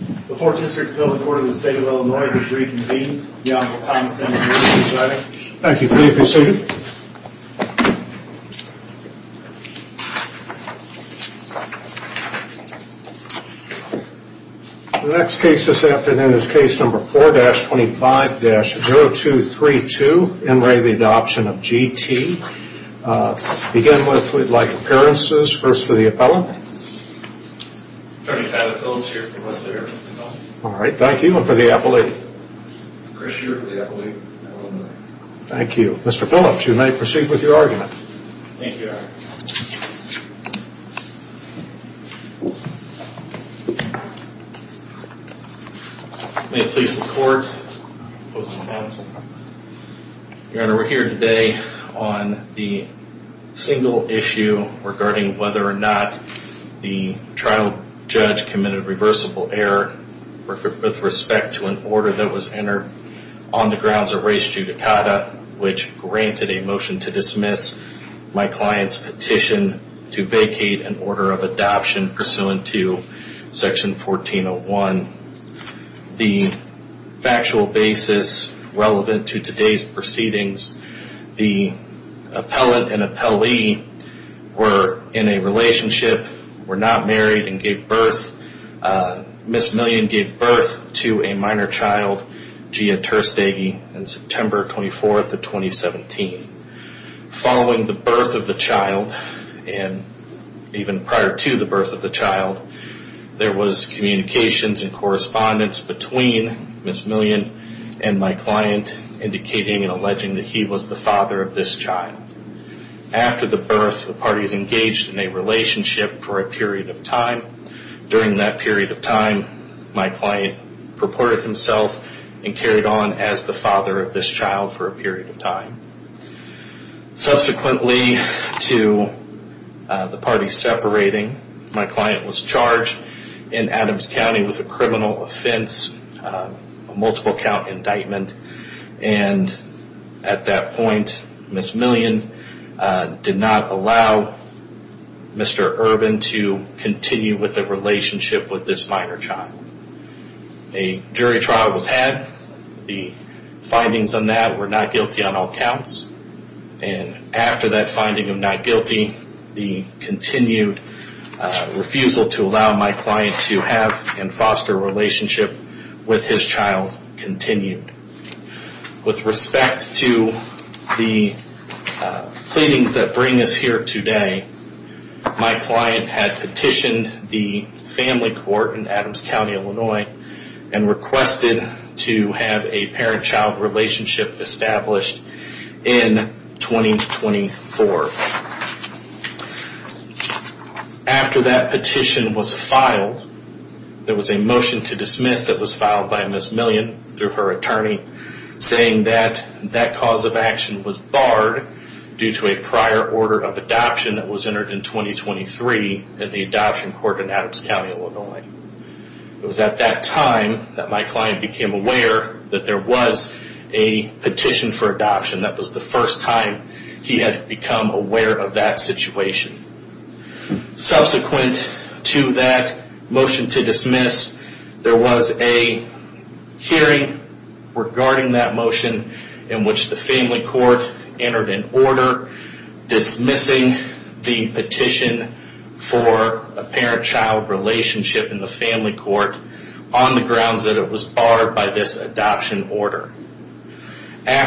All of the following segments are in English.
The Fourth District Appeal the Court of the State of Illinois has reconvened. The Honorable Tom Sandefur is presiding. Thank you. Please be seated. The next case this afternoon is case number 4-25-0232, N. Ray, the Adoption of G.T. To begin with, we'd like appearances. First for the appellant. Attorney Tyler Phillips here for Mr. Erickson. All right. Thank you. And for the appellate? Chris here for the appellate. Thank you. Mr. Phillips, you may proceed with your argument. Thank you, Your Honor. May it please the Court, opposing counsel. Your Honor, we're here today on the single issue regarding whether or not the trial judge committed reversible error with respect to an order that was entered on the grounds of res judicata, which granted a motion to dismiss my client's petition to vacate an order of adoption pursuant to Section 1401. The factual basis relevant to today's proceedings, the appellant and appellee were in a relationship, were not married, and gave birth. Ms. Million gave birth to a minor child, Gia Terstaghi, on September 24th of 2017. Following the birth of the child and even prior to the birth of the child, there was communications and correspondence between Ms. Million and my client, indicating and alleging that he was the father of this child. After the birth, the parties engaged in a relationship for a period of time. During that period of time, my client purported himself and carried on as the father of this child for a period of time. Subsequently to the parties separating, my client was charged in Adams County with a criminal offense, a multiple count indictment, and at that point, Ms. Million did not allow Mr. Urban to continue with the relationship with this minor child. A jury trial was had. The findings on that were not guilty on all counts. And after that finding of not guilty, the continued refusal to allow my client to have and foster a relationship with his child continued. With respect to the cleanings that bring us here today, my client had petitioned the family court in Adams County, Illinois, and requested to have a parent-child relationship established in 2024. After that petition was filed, there was a motion to dismiss that was filed by Ms. Million through her attorney, saying that that cause of action was barred due to a prior order of adoption that was entered in 2023 at the adoption court in Adams County, Illinois. It was at that time that my client became aware that there was a petition for adoption. That was the first time he had become aware of that situation. Subsequent to that motion to dismiss, there was a hearing regarding that motion in which the family court entered an order dismissing the petition for a parent-child relationship in the family court on the grounds that it was barred by this adoption order.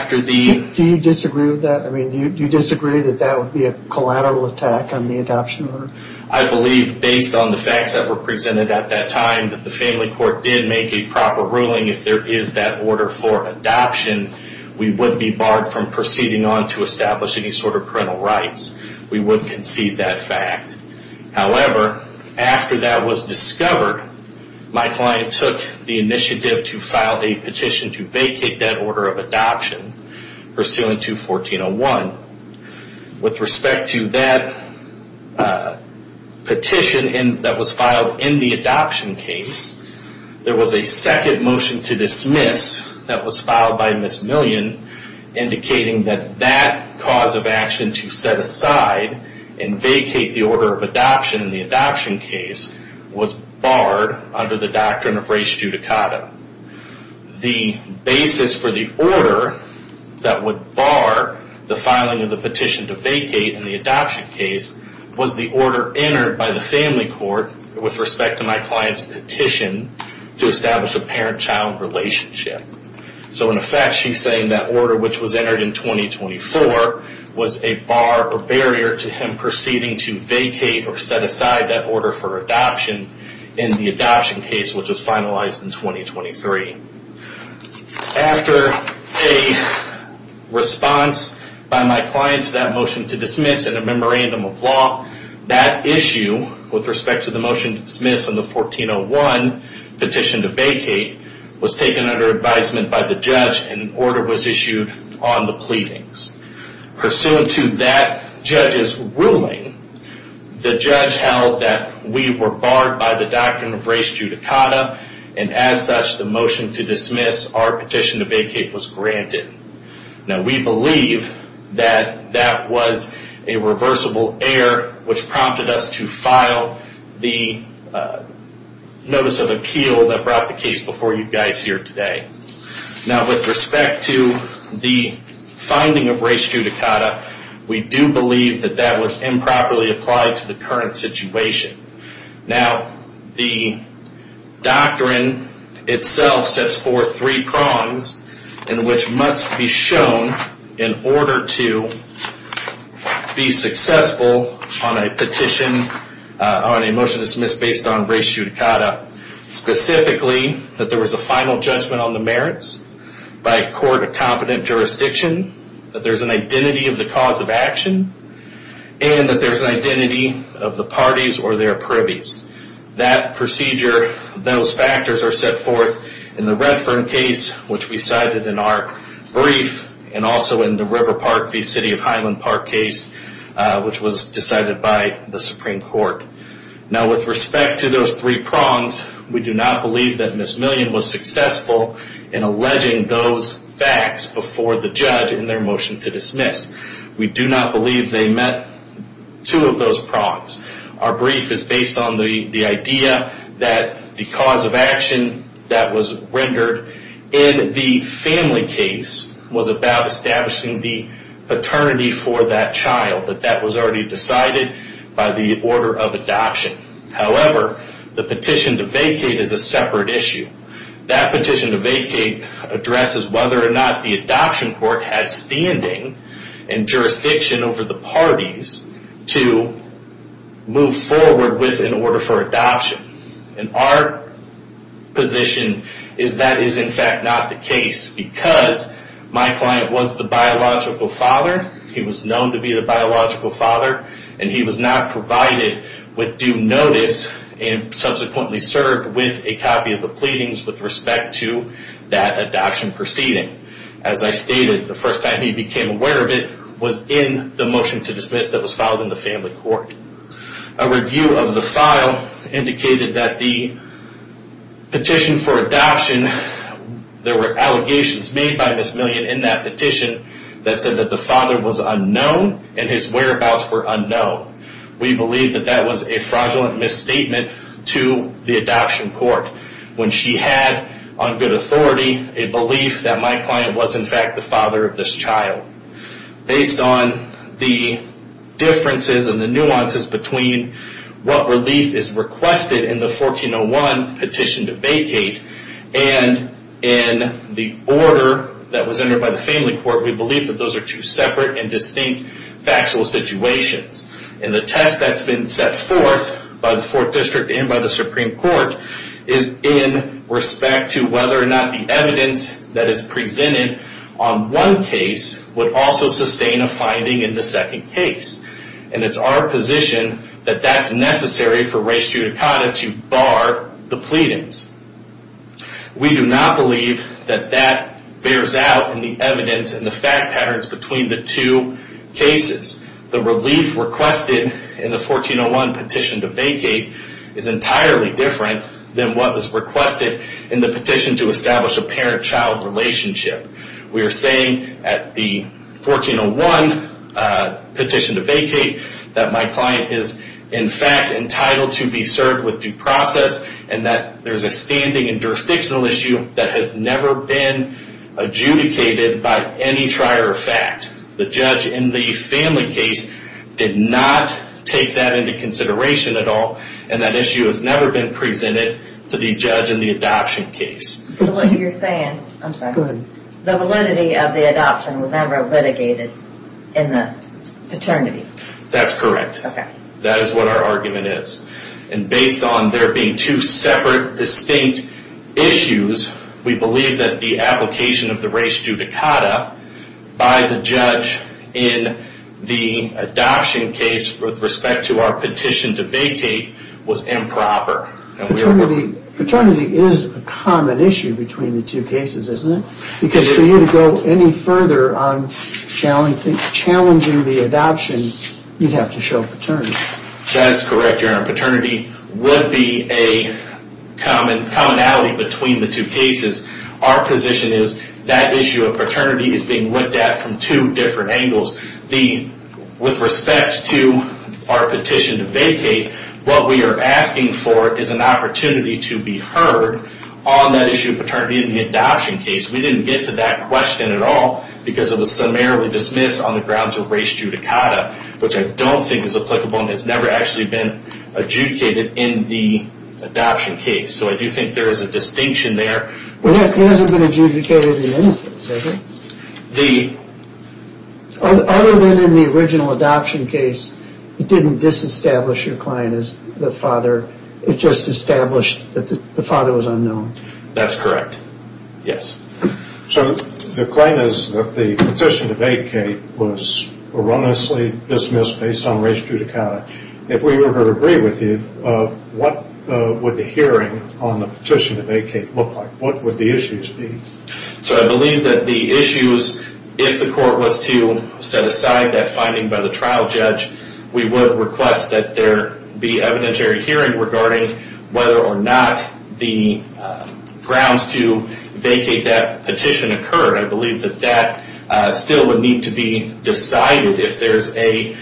Do you disagree with that? Do you disagree that that would be a collateral attack on the adoption order? I believe, based on the facts that were presented at that time, that the family court did make a proper ruling. If there is that order for adoption, we would be barred from proceeding on to establish any sort of parental rights. We would concede that fact. However, after that was discovered, my client took the initiative to file a petition to vacate that order of adoption, pursuant to 1401. With respect to that petition that was filed in the adoption case, there was a second motion to dismiss that was filed by Ms. Million indicating that that cause of action to set aside and vacate the order of adoption in the adoption case was barred under the doctrine of res judicata. The basis for the order that would bar the filing of the petition to vacate in the adoption case was the order entered by the family court with respect to my client's petition to establish a parent-child relationship. In effect, she's saying that order, which was entered in 2024, was a bar or barrier to him proceeding to vacate or set aside that order for adoption in the adoption case, which was finalized in 2023. After a response by my client to that motion to dismiss in a memorandum of law, that issue with respect to the motion to dismiss and the 1401 petition to vacate was taken under advisement by the judge and an order was issued on the pleadings. Pursuant to that judge's ruling, the judge held that we were barred by the doctrine of res judicata and as such, the motion to dismiss our petition to vacate was granted. Now, we believe that that was a reversible error, which prompted us to file the notice of appeal that brought the case before you guys here today. Now, with respect to the finding of res judicata, we do believe that that was improperly applied to the current situation. Now, the doctrine itself sets forth three prongs in which must be shown in order to be successful on a petition, on a motion to dismiss based on res judicata. Specifically, that there was a final judgment on the merits by a court of competent jurisdiction, that there's an identity of the cause of action, and that there's an identity of the parties or their privies. That procedure, those factors are set forth in the Redfern case, which we cited in our brief, and also in the River Park v. City of Highland Park case, which was decided by the Supreme Court. Now, with respect to those three prongs, we do not believe that Ms. Million was successful in alleging those facts before the judge in their motion to dismiss. We do not believe they met two of those prongs. Our brief is based on the idea that the cause of action that was rendered in the family case was about establishing the paternity for that child, that that was already decided by the order of adoption. However, the petition to vacate is a separate issue. That petition to vacate addresses whether or not the adoption court had standing and jurisdiction over the parties to move forward with an order for adoption. And our position is that is, in fact, not the case because my client was the biological father. He was known to be the biological father, and he was not provided with due notice and subsequently served with a copy of the pleadings with respect to that adoption proceeding. As I stated, the first time he became aware of it was in the motion to dismiss that was filed in the family court. A review of the file indicated that the petition for adoption, there were allegations made by Ms. Million in that petition that said that the father was unknown and his whereabouts were unknown. We believe that that was a fraudulent misstatement to the adoption court when she had, on good authority, a belief that my client was, in fact, the father of this child. Based on the differences and the nuances between what relief is requested in the 1401 petition to vacate and in the order that was entered by the family court, we believe that those are two separate and distinct factual situations. And the test that's been set forth by the Fourth District and by the Supreme Court is in respect to whether or not the evidence that is presented on one case would also sustain a finding in the second case. And it's our position that that's necessary for race judicata to bar the pleadings. We do not believe that that bears out in the evidence and the fact patterns between the two cases. The relief requested in the 1401 petition to vacate is entirely different than what was requested in the petition to establish a parent-child relationship. We are saying at the 1401 petition to vacate that my client is, in fact, entitled to be served with due process and that there's a standing and jurisdictional issue that has never been adjudicated by any trier of fact. The judge in the family case did not take that into consideration at all and that issue has never been presented to the judge in the adoption case. The validity of the adoption was never litigated in the paternity? That's correct. That is what our argument is. And based on there being two separate, distinct issues, we believe that the application of the race judicata by the judge in the adoption case with respect to our petition to vacate was improper. Paternity is a common issue between the two cases, isn't it? Because for you to go any further on challenging the adoption, you'd have to show paternity. That's correct, Your Honor. Paternity would be a commonality between the two cases. Our position is that issue of paternity is being looked at from two different angles. With respect to our petition to vacate, what we are asking for is an opportunity to be heard on that issue of paternity in the adoption case. We didn't get to that question at all because it was summarily dismissed on the grounds of race judicata, which I don't think is applicable and has never actually been adjudicated in the adoption case. So I do think there is a distinction there. It hasn't been adjudicated in any case, has it? Other than in the original adoption case, it didn't disestablish your client as the father. It just established that the father was unknown. That's correct. Yes. So the claim is that the petition to vacate was erroneously dismissed based on race judicata. If we were to agree with you, what would the hearing on the petition to vacate look like? What would the issues be? So I believe that the issues, if the court was to set aside that finding by the trial judge, we would request that there be evidentiary hearing regarding whether or not the grounds to vacate that petition occurred. I believe that that still would need to be decided. If there's a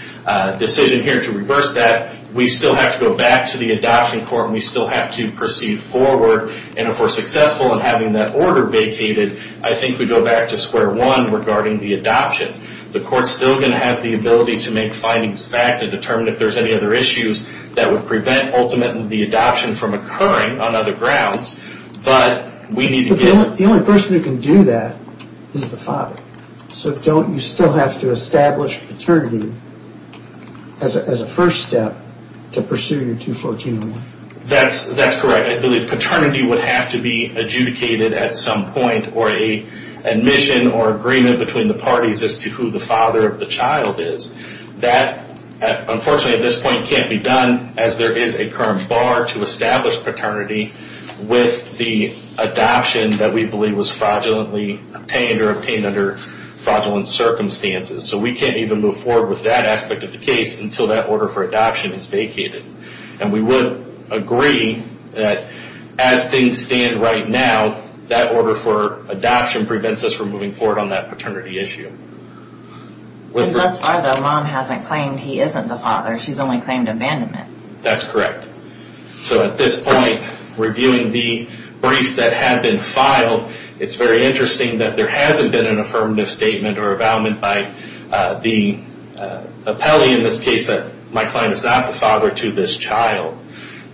decision here to reverse that, we still have to go back to the adoption court and we still have to proceed forward. And if we're successful in having that order vacated, I think we go back to square one regarding the adoption. The court's still going to have the ability to make findings back to determine if there's any other issues that would prevent ultimately the adoption from occurring on other grounds. But the only person who can do that is the father. So don't you still have to establish paternity as a first step to pursue your 214-01? That's correct. I believe paternity would have to be adjudicated at some point or an admission or agreement between the parties as to who the father of the child is. That unfortunately at this point can't be done as there is a current bar to establish paternity with the adoption that we believe was fraudulently obtained or obtained under fraudulent circumstances. So we can't even move forward with that aspect of the case until that order for adoption is vacated. And we would agree that as things stand right now, that order for adoption prevents us from moving forward on that paternity issue. And thus far the mom hasn't claimed he isn't the father. She's only claimed abandonment. That's correct. So at this point, reviewing the briefs that have been filed, it's very interesting that there hasn't been an affirmative statement or avowal by the appellee in this case that my client is not the father to this child.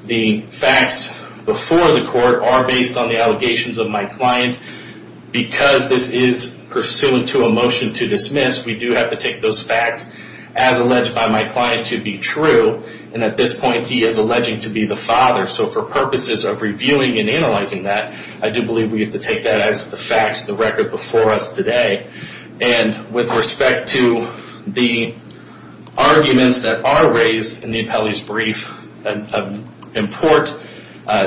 The facts before the court are based on the allegations of my client. Because this is pursuant to a motion to dismiss, we do have to take those facts as alleged by my client to be true. And at this point he is alleging to be the father. So for purposes of reviewing and analyzing that, I do believe we have to take that as the facts, the record before us today. And with respect to the arguments that are raised in the appellee's brief import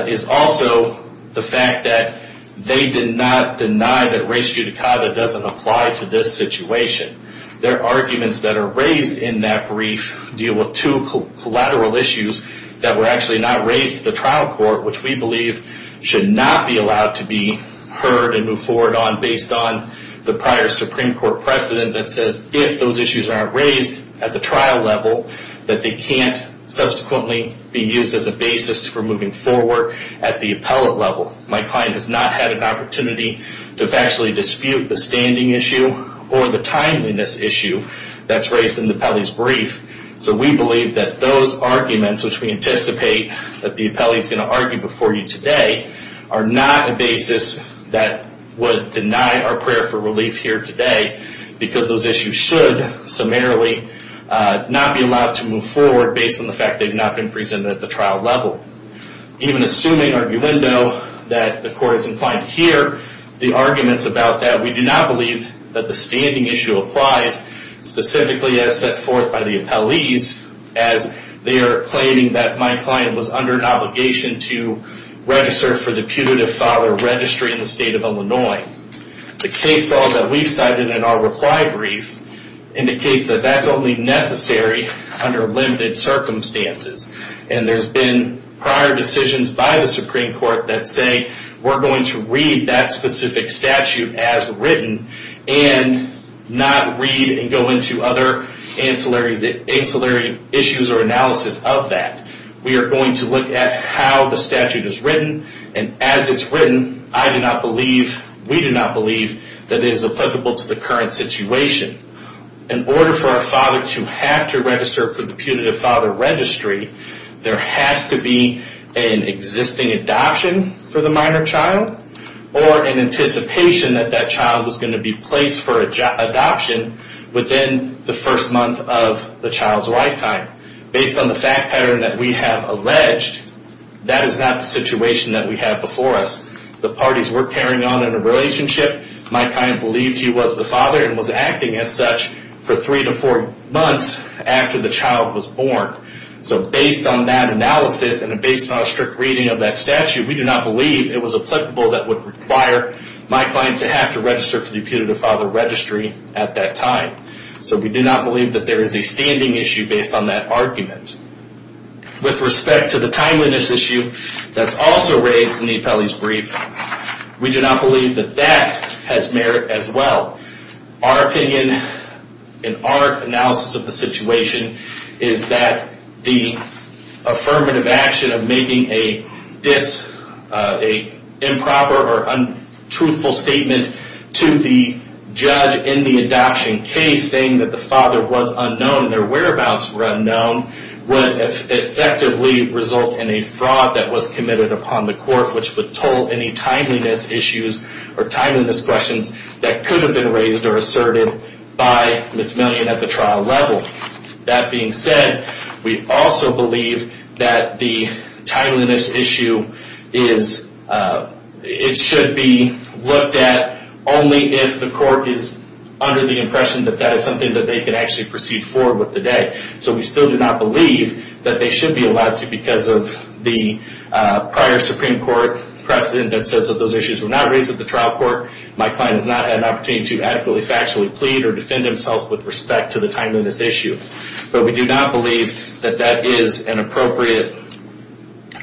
is also the fact that they did not deny that res judicata doesn't apply to this situation. Their arguments that are raised in that brief deal with two collateral issues that were actually not raised to the trial court, which we believe should not be allowed to be heard and moved forward on based on the prior Supreme Court precedent that says if those issues aren't raised at the trial level, that they can't subsequently be used as a basis for moving forward at the appellate level. My client has not had an opportunity to factually dispute the standing issue or the timeliness issue that's raised in the appellee's brief. So we believe that those arguments, which we anticipate that the appellee is going to argue before you today, are not a basis that would deny our prayer for relief here today because those issues should summarily not be allowed to move forward based on the fact that they've not been presented at the trial level. Even assuming, arguendo, that the court is inclined to hear the arguments about that, we do not believe that the standing issue applies specifically as set forth by the appellees as they are claiming that my client was under an obligation to register for the putative father registry in the state of Illinois. The case law that we've cited in our reply brief indicates that that's only necessary under limited circumstances. And there's been prior decisions by the Supreme Court that say we're going to read that specific statute as written and not read and go into other ancillary issues or analysis of that. We are going to look at how the statute is written, and as it's written, I do not believe, we do not believe that it is applicable to the current situation. In order for a father to have to register for the putative father registry, there has to be an existing adoption for the minor child or an anticipation that that child was going to be placed for adoption within the first month of the child's lifetime. Based on the fact pattern that we have alleged, that is not the situation that we have before us. The parties were carrying on in a relationship. My client believed he was the father and was acting as such for three to four months after the child was born. So based on that analysis and based on a strict reading of that statute, we do not believe it was applicable that would require my client to have to register for the putative father registry at that time. So we do not believe that there is a standing issue based on that argument. With respect to the timeliness issue that's also raised in the appellee's brief, we do not believe that that has merit as well. Our opinion and our analysis of the situation is that the affirmative action of making a dis, a improper or untruthful statement to the judge in the adoption case, saying that the father was unknown, their whereabouts were unknown, would effectively result in a fraud that was committed upon the court, which would toll any timeliness issues or timeliness questions that could have been raised or asserted by Ms. Million at the trial level. That being said, we also believe that the timeliness issue is, it should be looked at only if the court is under the impression that that is something that they can actually proceed forward with today. So we still do not believe that they should be allowed to because of the prior Supreme Court precedent that says that those issues were not raised at the trial court. My client has not had an opportunity to adequately factually plead or defend himself with respect to the timeliness issue. But we do not believe that that is an appropriate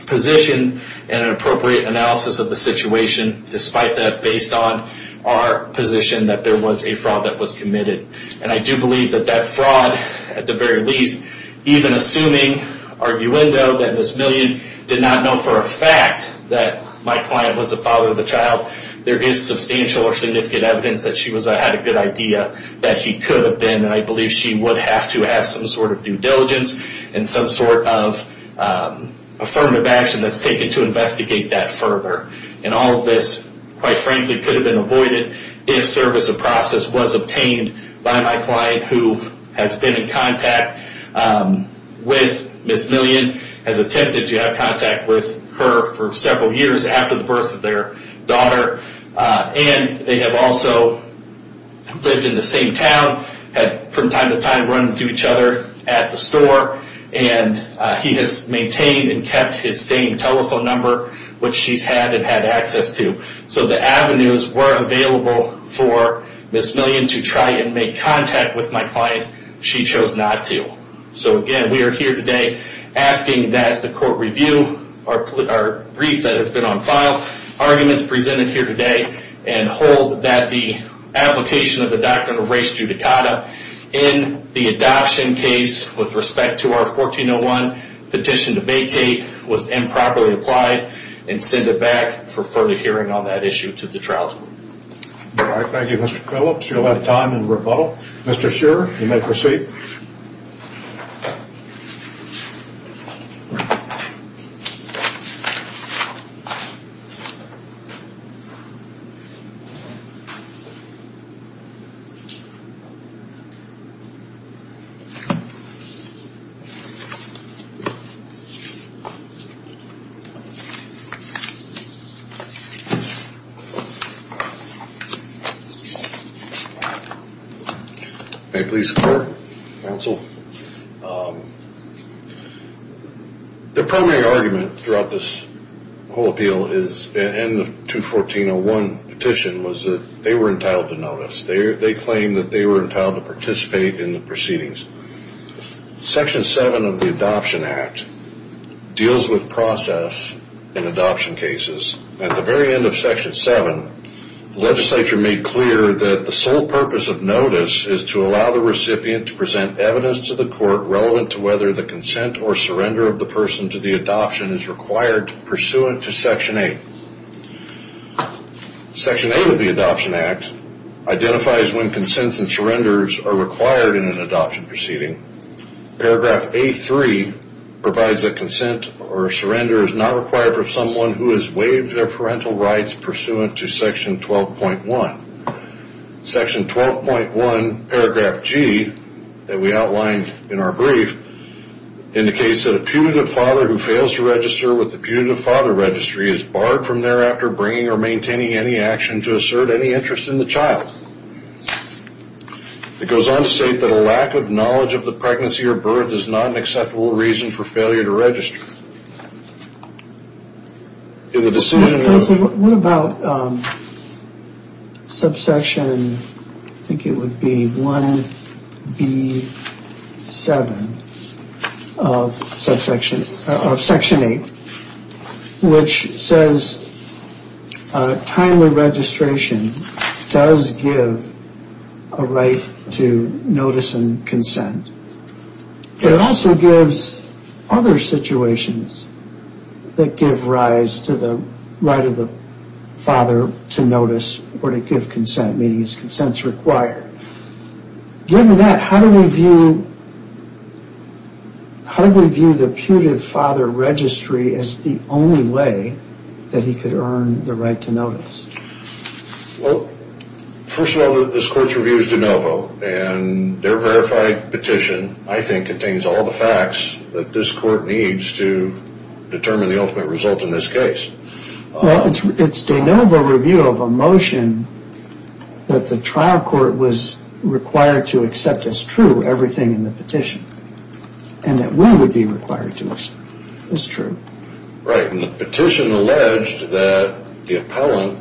position and an appropriate analysis of the situation, despite that based on our position that there was a fraud that was committed. And I do believe that that fraud, at the very least, even assuming arguendo that Ms. Million did not know for a fact that my client was the father of the child, there is substantial or significant evidence that she had a good idea that he could have been. And I believe she would have to have some sort of due diligence and some sort of affirmative action that's taken to investigate that further. And all of this, quite frankly, could have been avoided if service of process was obtained by my client, who has been in contact with Ms. Million, has attempted to have contact with her for several years after the birth of their daughter. And they have also lived in the same town, had from time to time run into each other at the store. And he has maintained and kept his same telephone number, which she's had and had access to. So the avenues were available for Ms. Million to try and make contact with my client. She chose not to. So, again, we are here today asking that the court review our brief that has been on file, arguments presented here today, and hold that the application of the Doctrine of Race Judicata in the adoption case with respect to our 1401 petition to vacate was improperly applied and send it back for further hearing on that issue to the trial court. All right. Thank you, Mr. Phillips. You'll have time in rebuttal. Mr. Scherer, you may proceed. Thank you. Thank you. Thank you. The primary argument throughout this whole appeal is, and the 214-01 petition, was that they were entitled to notice. They claim that they were entitled to participate in the proceedings. Section 7 of the Adoption Act deals with process in adoption cases. At the very end of Section 7, the legislature made clear that the sole purpose of notice is to allow the recipient to present evidence to the court relevant to whether the consent or surrender of the person to the adoption is required pursuant to Section 8. Section 8 of the Adoption Act identifies when consents and surrenders are required in an adoption proceeding. Paragraph A3 provides that consent or surrender is not required for someone who has waived their parental rights pursuant to Section 12.1. Section 12.1, paragraph G, that we outlined in our brief, indicates that a putative father who fails to register with the putative father registry is barred from thereafter bringing or maintaining any action to assert any interest in the child. It goes on to state that a lack of knowledge of the pregnancy or birth is not an acceptable reason for failure to register. What about subsection, I think it would be 1B7 of Section 8, which says timely registration does give a right to notice and consent. It also gives other situations that give rise to the right of the father to notice or to give consent, meaning his consent is required. Given that, how do we view the putative father registry as the only way that he could earn the right to notice? Well, first of all, this Court's review is de novo, and their verified petition, I think, contains all the facts that this Court needs to determine the ultimate result in this case. Well, it's de novo review of a motion that the trial court was required to accept as true everything in the petition, and that we would be required to listen. It's true. Right, and the petition alleged that the appellant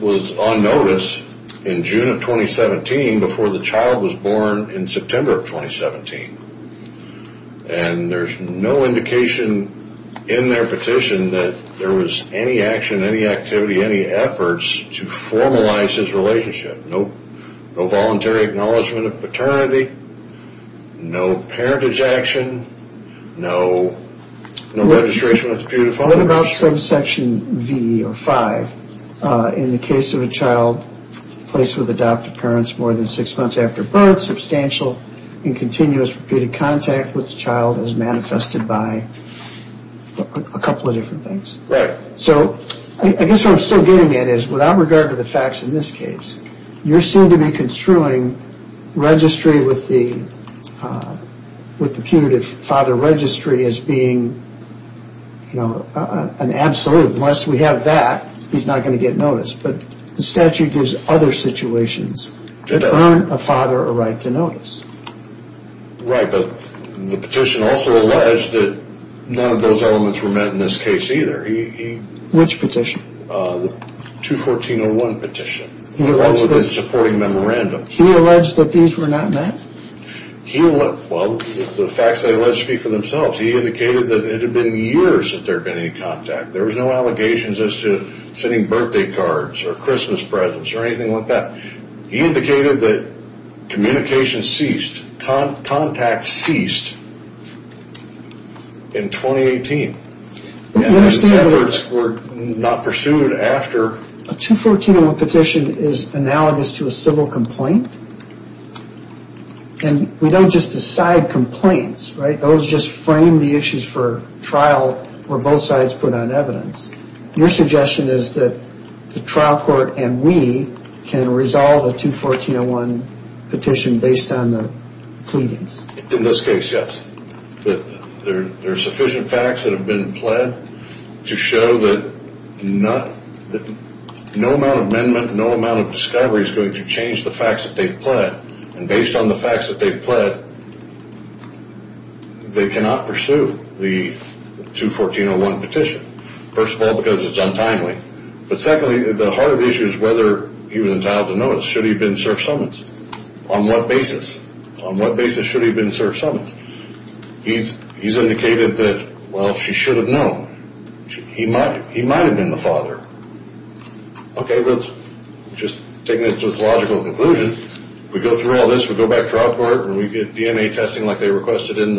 was on notice in June of 2017 before the child was born in September of 2017. And there's no indication in their petition that there was any action, any activity, any efforts to formalize his relationship. No voluntary acknowledgment of paternity, no parentage action, no registration with the putative father registry. What about subsection V or V? In the case of a child placed with adoptive parents more than six months after birth, substantial and continuous repeated contact with the child is manifested by a couple of different things. Right. So I guess what I'm still getting at is, without regard to the facts in this case, you seem to be construing registry with the putative father registry as being an absolute. Unless we have that, he's not going to get notice. But the statute gives other situations that earn a father a right to notice. Right, but the petition also alleged that none of those elements were met in this case either. Which petition? The 214-01 petition, the one with the supporting memorandum. He alleged that these were not met? Well, the facts they allege speak for themselves. He indicated that it had been years that there had been any contact. There was no allegations as to sending birthday cards or Christmas presents or anything like that. He indicated that communication ceased, contact ceased in 2018. We understand that. Efforts were not pursued after. A 214-01 petition is analogous to a civil complaint, and we don't just decide complaints, right? Those just frame the issues for trial where both sides put on evidence. Your suggestion is that the trial court and we can resolve a 214-01 petition based on the pleadings. In this case, yes. There are sufficient facts that have been pled to show that no amount of amendment, no amount of discovery is going to change the facts that they've pled. And based on the facts that they've pled, they cannot pursue the 214-01 petition. First of all, because it's untimely. But secondly, the heart of the issue is whether he was entitled to notice. Should he have been served summons? On what basis? On what basis should he have been served summons? He's indicated that, well, she should have known. He might have been the father. Okay, let's just take this to its logical conclusion. We go through all this, we go back to trial court, and we get DNA testing like they requested in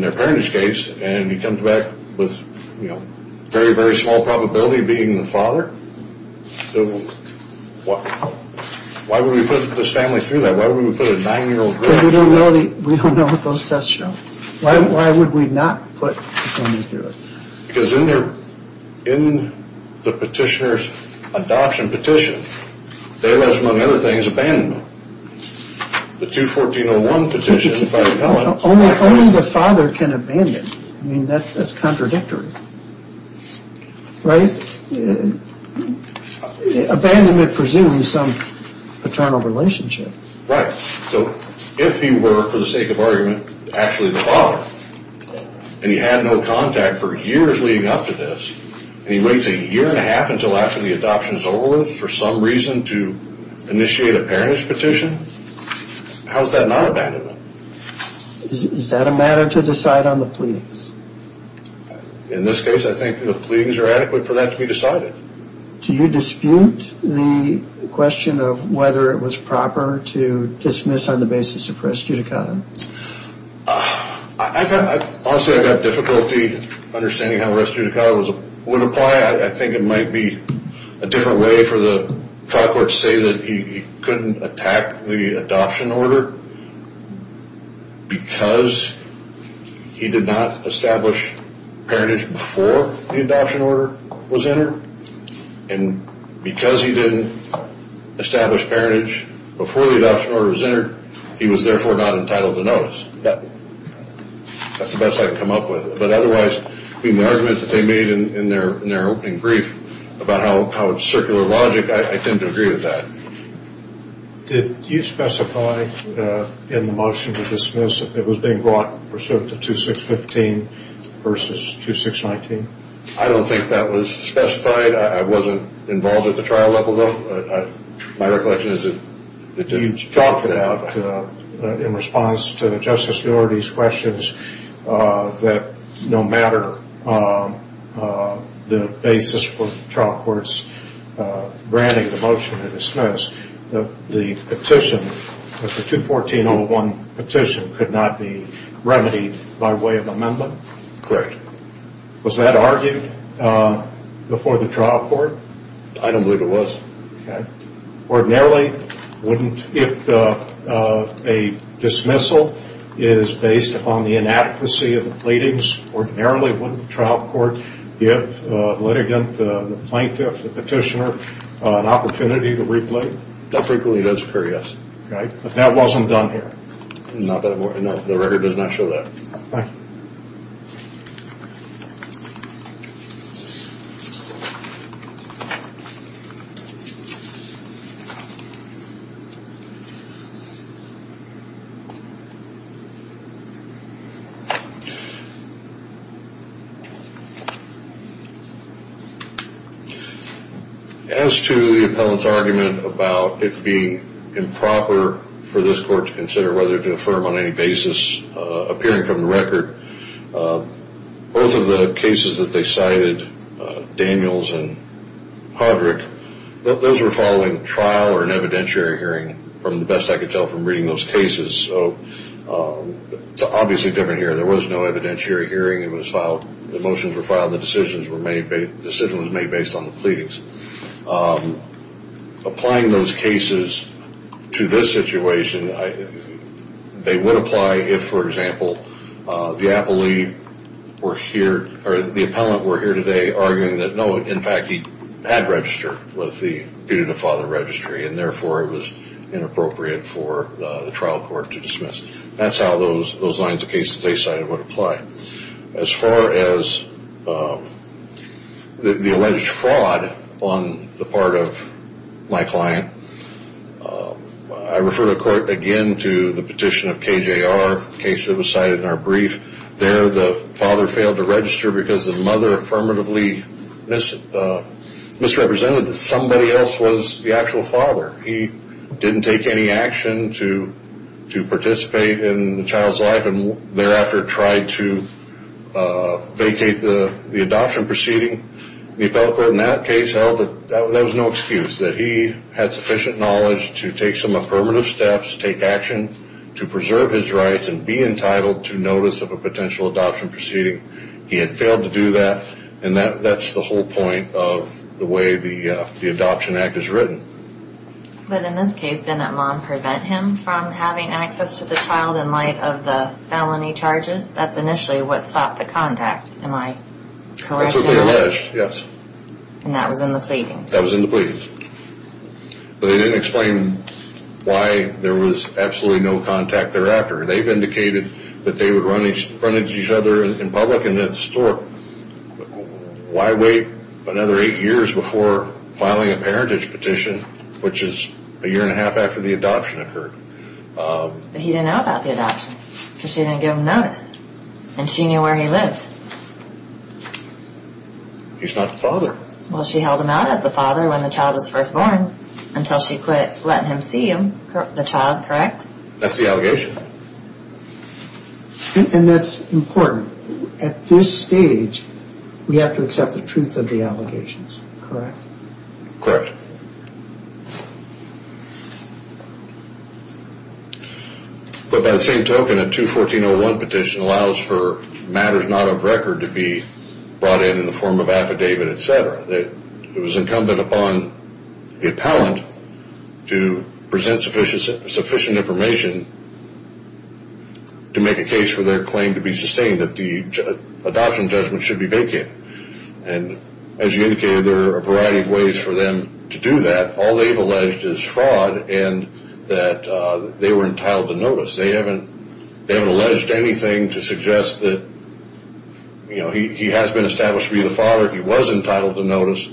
their parentage case, and he comes back with, you know, very, very small probability of being the father. So why would we put this family through that? Why would we put a nine-year-old girl through that? Because we don't know what those tests show. Why would we not put the family through it? Because in the petitioner's adoption petition, they, as among other things, abandon them. The 214-01 petition, if I recall it, Only the father can abandon. I mean, that's contradictory. Right? Abandonment presumes some paternal relationship. So if he were, for the sake of argument, actually the father, and he had no contact for years leading up to this, and he waits a year and a half until after the adoption is over with for some reason to initiate a parentage petition, how is that not abandonment? Is that a matter to decide on the pleadings? In this case, I think the pleadings are adequate for that to be decided. Do you dispute the question of whether it was proper to dismiss on the basis of res judicata? Honestly, I've got difficulty understanding how res judicata would apply. I think it might be a different way for the trial court to say that he couldn't attack the adoption order because he did not establish parentage before the adoption order was entered, and because he didn't establish parentage before the adoption order was entered, he was therefore not entitled to notice. That's the best I can come up with. But otherwise, I mean, the argument that they made in their opening brief about how it's circular logic, I tend to agree with that. Did you specify in the motion to dismiss that it was being brought pursuant to 2615 versus 2619? I don't think that was specified. I wasn't involved at the trial level, though. My recollection is that the judge talked to that. In response to Justice Norody's questions, that no matter the basis for trial courts granting the motion to dismiss, the petition, the 21401 petition could not be remedied by way of amendment? Correct. Was that argued before the trial court? I don't believe it was. Ordinarily, if a dismissal is based upon the inadequacy of the pleadings, ordinarily wouldn't the trial court give the litigant, the plaintiff, the petitioner an opportunity to replay? That frequently does occur, yes. But that wasn't done here? No, the record does not show that. Thank you. Thank you. As to the appellant's argument about it being improper for this court to consider whether to affirm on any basis, appearing from the record, both of the cases that they cited, Daniels and Hodrick, those were following trial or an evidentiary hearing, from the best I could tell from reading those cases. So it's obviously different here. There was no evidentiary hearing. The motions were filed. The decisions were made based on the pleadings. Applying those cases to this situation, they would apply if, for example, the appellant were here today arguing that, no, in fact, he had registered with the Puget Father Registry and, therefore, it was inappropriate for the trial court to dismiss. That's how those lines of cases they cited would apply. As far as the alleged fraud on the part of my client, I refer the court again to the petition of KJR, the case that was cited in our brief. There the father failed to register because the mother affirmatively misrepresented that somebody else was the actual father. He didn't take any action to participate in the child's life and, thereafter, tried to vacate the adoption proceeding. The appellate court in that case held that that was no excuse, that he had sufficient knowledge to take some affirmative steps, take action to preserve his rights, and be entitled to notice of a potential adoption proceeding. He had failed to do that, and that's the whole point of the way the Adoption Act is written. But in this case, didn't that mom prevent him from having access to the child in light of the felony charges? That's initially what stopped the contact, am I correct? Absolutely alleged, yes. And that was in the pleadings? That was in the pleadings. But they didn't explain why there was absolutely no contact thereafter. They've indicated that they would run into each other in public and at the store. Why wait another eight years before filing a parentage petition, which is a year and a half after the adoption occurred? But he didn't know about the adoption because she didn't give him notice, and she knew where he lived. He's not the father. Well, she held him out as the father when the child was first born until she quit letting him see the child, correct? That's the allegation. And that's important. At this stage, we have to accept the truth of the allegations, correct? Correct. But by the same token, a 214-01 petition allows for matters not of record to be brought in in the form of affidavit, et cetera. It was incumbent upon the appellant to present sufficient information to make a case for their claim to be sustained, that the adoption judgment should be vacated. And as you indicated, there are a variety of ways for them to do that. All they've alleged is fraud and that they were entitled to notice. They haven't alleged anything to suggest that, you know, he has been established to be the father, he was entitled to notice,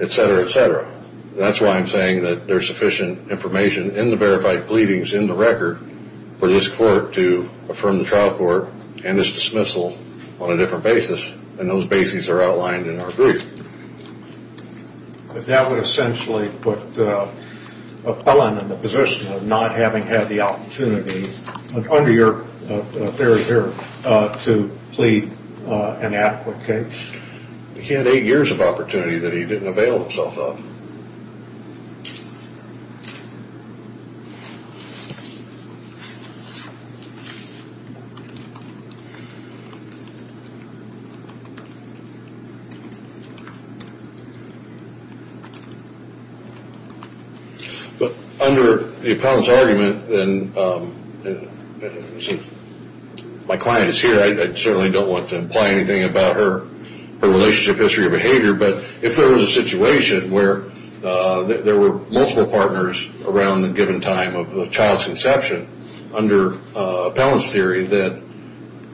et cetera, et cetera. That's why I'm saying that there's sufficient information in the verified pleadings in the record for this court to affirm the trial court and its dismissal on a different basis, and those bases are outlined in our group. But that would essentially put an appellant in the position of not having had the opportunity, under your theory here, to plead an adequate case. He had eight years of opportunity that he didn't avail himself of. But under the appellant's argument, and my client is here, I certainly don't want to imply anything about her relationship history or behavior, but if there was a situation where there were multiple partners around a given time of the child's conception, under appellant's theory, that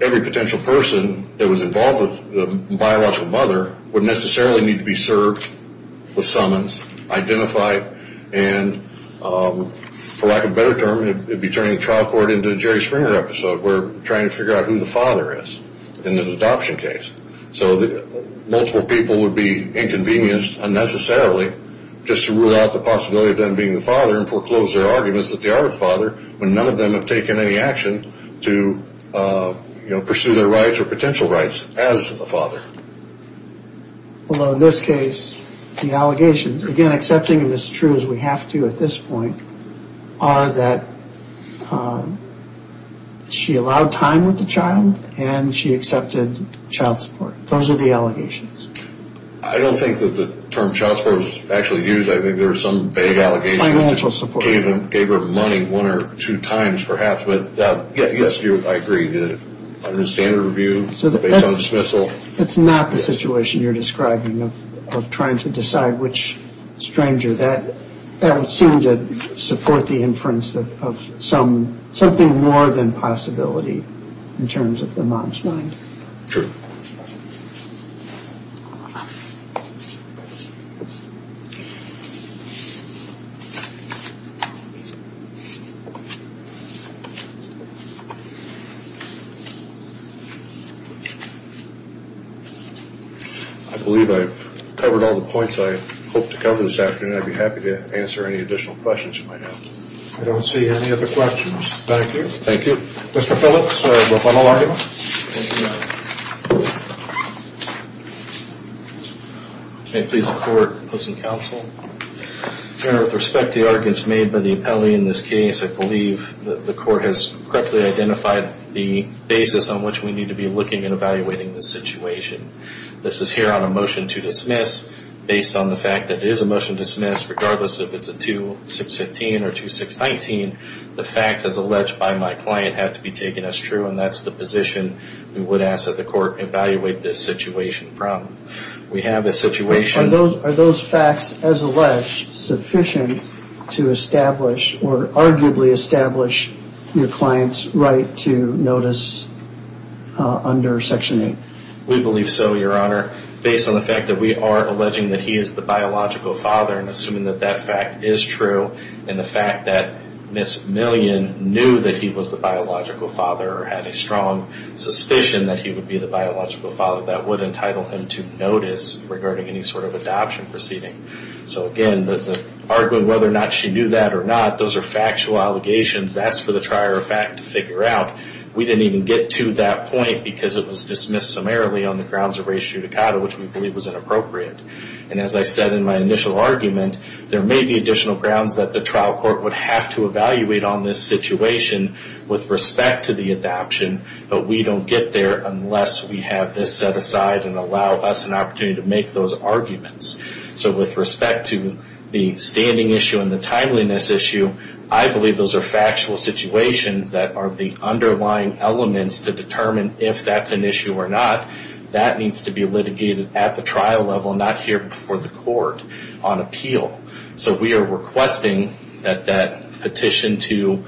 every potential person that was involved with the biological mother would necessarily need to be served with summons, identified, and for lack of a better term, it would be turning the trial court into a Jerry Springer episode where we're trying to figure out who the father is in an adoption case. So multiple people would be inconvenienced unnecessarily just to rule out the possibility of them being the father and foreclose their arguments that they are the father when none of them have taken any action to pursue their rights or potential rights as the father. Although in this case, the allegations, again accepting them as true as we have to at this point, are that she allowed time with the child and she accepted child support. Those are the allegations. I don't think that the term child support was actually used. I think there were some vague allegations. Financial support. Gave her money one or two times perhaps, but yes, I agree. Under the standard review, based on dismissal. That's not the situation you're describing of trying to decide which stranger. That would seem to support the inference of something more than possibility in terms of the mom's mind. True. I believe I've covered all the points I hope to cover this afternoon. I'd be happy to answer any additional questions you might have. I don't see any other questions. Thank you. Thank you. Mr. Phillips, your final argument. May it please the court, opposing counsel. Your Honor, with respect to the arguments made by the appellee in this case, I believe that the court has correctly identified the basis on which we need to be looking and evaluating this situation. This is here on a motion to dismiss based on the fact that it is a motion to dismiss regardless if it's a 2615 or 2619. The facts as alleged by my client have to be taken as true, and that's the position we would ask that the court evaluate this situation from. We have a situation. Are those facts as alleged sufficient to establish or arguably establish your client's right to notice under Section 8? We believe so, Your Honor. Based on the fact that we are alleging that he is the biological father and assuming that that fact is true and the fact that Ms. Millian knew that he was the biological father or had a strong suspicion that he would be the biological father, that would entitle him to notice regarding any sort of adoption proceeding. So, again, the argument whether or not she knew that or not, those are factual allegations. That's for the trier of fact to figure out. We didn't even get to that point because it was dismissed summarily on the grounds of race judicata, which we believe was inappropriate. And as I said in my initial argument, there may be additional grounds that the trial court would have to evaluate on this situation with respect to the adoption, but we don't get there unless we have this set aside and allow us an opportunity to make those arguments. So with respect to the standing issue and the timeliness issue, I believe those are factual situations that are the underlying elements to determine if that's an issue or not. That needs to be litigated at the trial level, not here before the court on appeal. So we are requesting that that petition to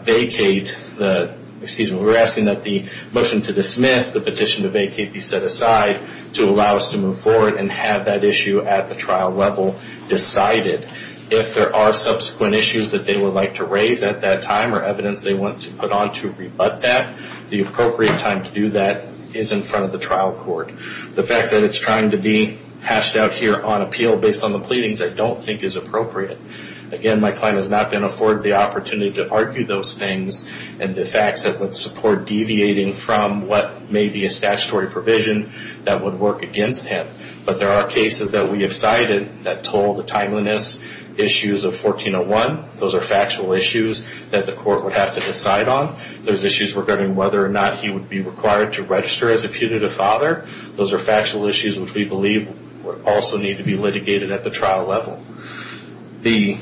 vacate the, excuse me, we're asking that the motion to dismiss, the petition to vacate be set aside to allow us to move forward and have that issue at the trial level decided. If there are subsequent issues that they would like to raise at that time or evidence they want to put on to rebut that, the appropriate time to do that is in front of the trial court. The fact that it's trying to be hashed out here on appeal based on the pleadings I don't think is appropriate. Again, my client has not been afforded the opportunity to argue those things and the facts that would support deviating from what may be a statutory provision that would work against him. But there are cases that we have cited that told the timeliness issues of 1401. Those are factual issues that the court would have to decide on. There's issues regarding whether or not he would be required to register as a putative father. Those are factual issues which we believe would also need to be litigated at the trial level. The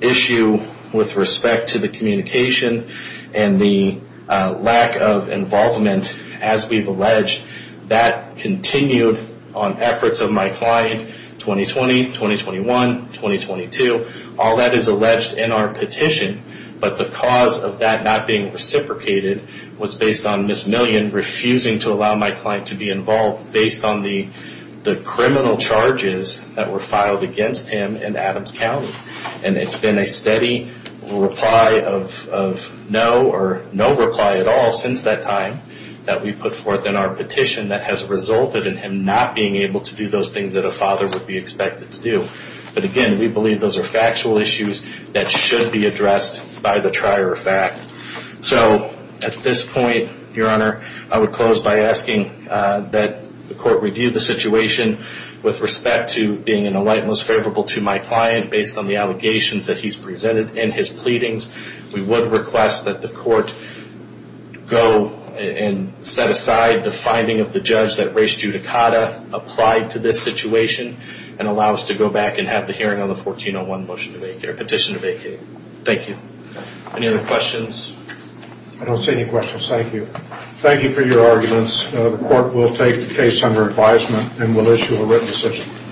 issue with respect to the communication and the lack of involvement, as we've alleged, that continued on efforts of my client 2020, 2021, 2022. All that is alleged in our petition, but the cause of that not being reciprocated was based on Ms. Millian refusing to allow my client to be involved based on the criminal charges that were filed against him in Adams County. It's been a steady reply of no or no reply at all since that time that we put forth in our petition that has resulted in him not being able to do those things that a father would be expected to do. But again, we believe those are factual issues that should be addressed by the trier of fact. So at this point, Your Honor, I would close by asking that the court review the situation with respect to being an alighting most favorable to my client based on the allegations that he's presented and his pleadings. We would request that the court go and set aside the finding of the judge that race judicata applied to this situation and allow us to go back and have the hearing on the 1401 petition to vacate. Thank you. Any other questions? I don't see any questions. Thank you. Thank you for your arguments. The court will take the case under advisement and will issue a written decision.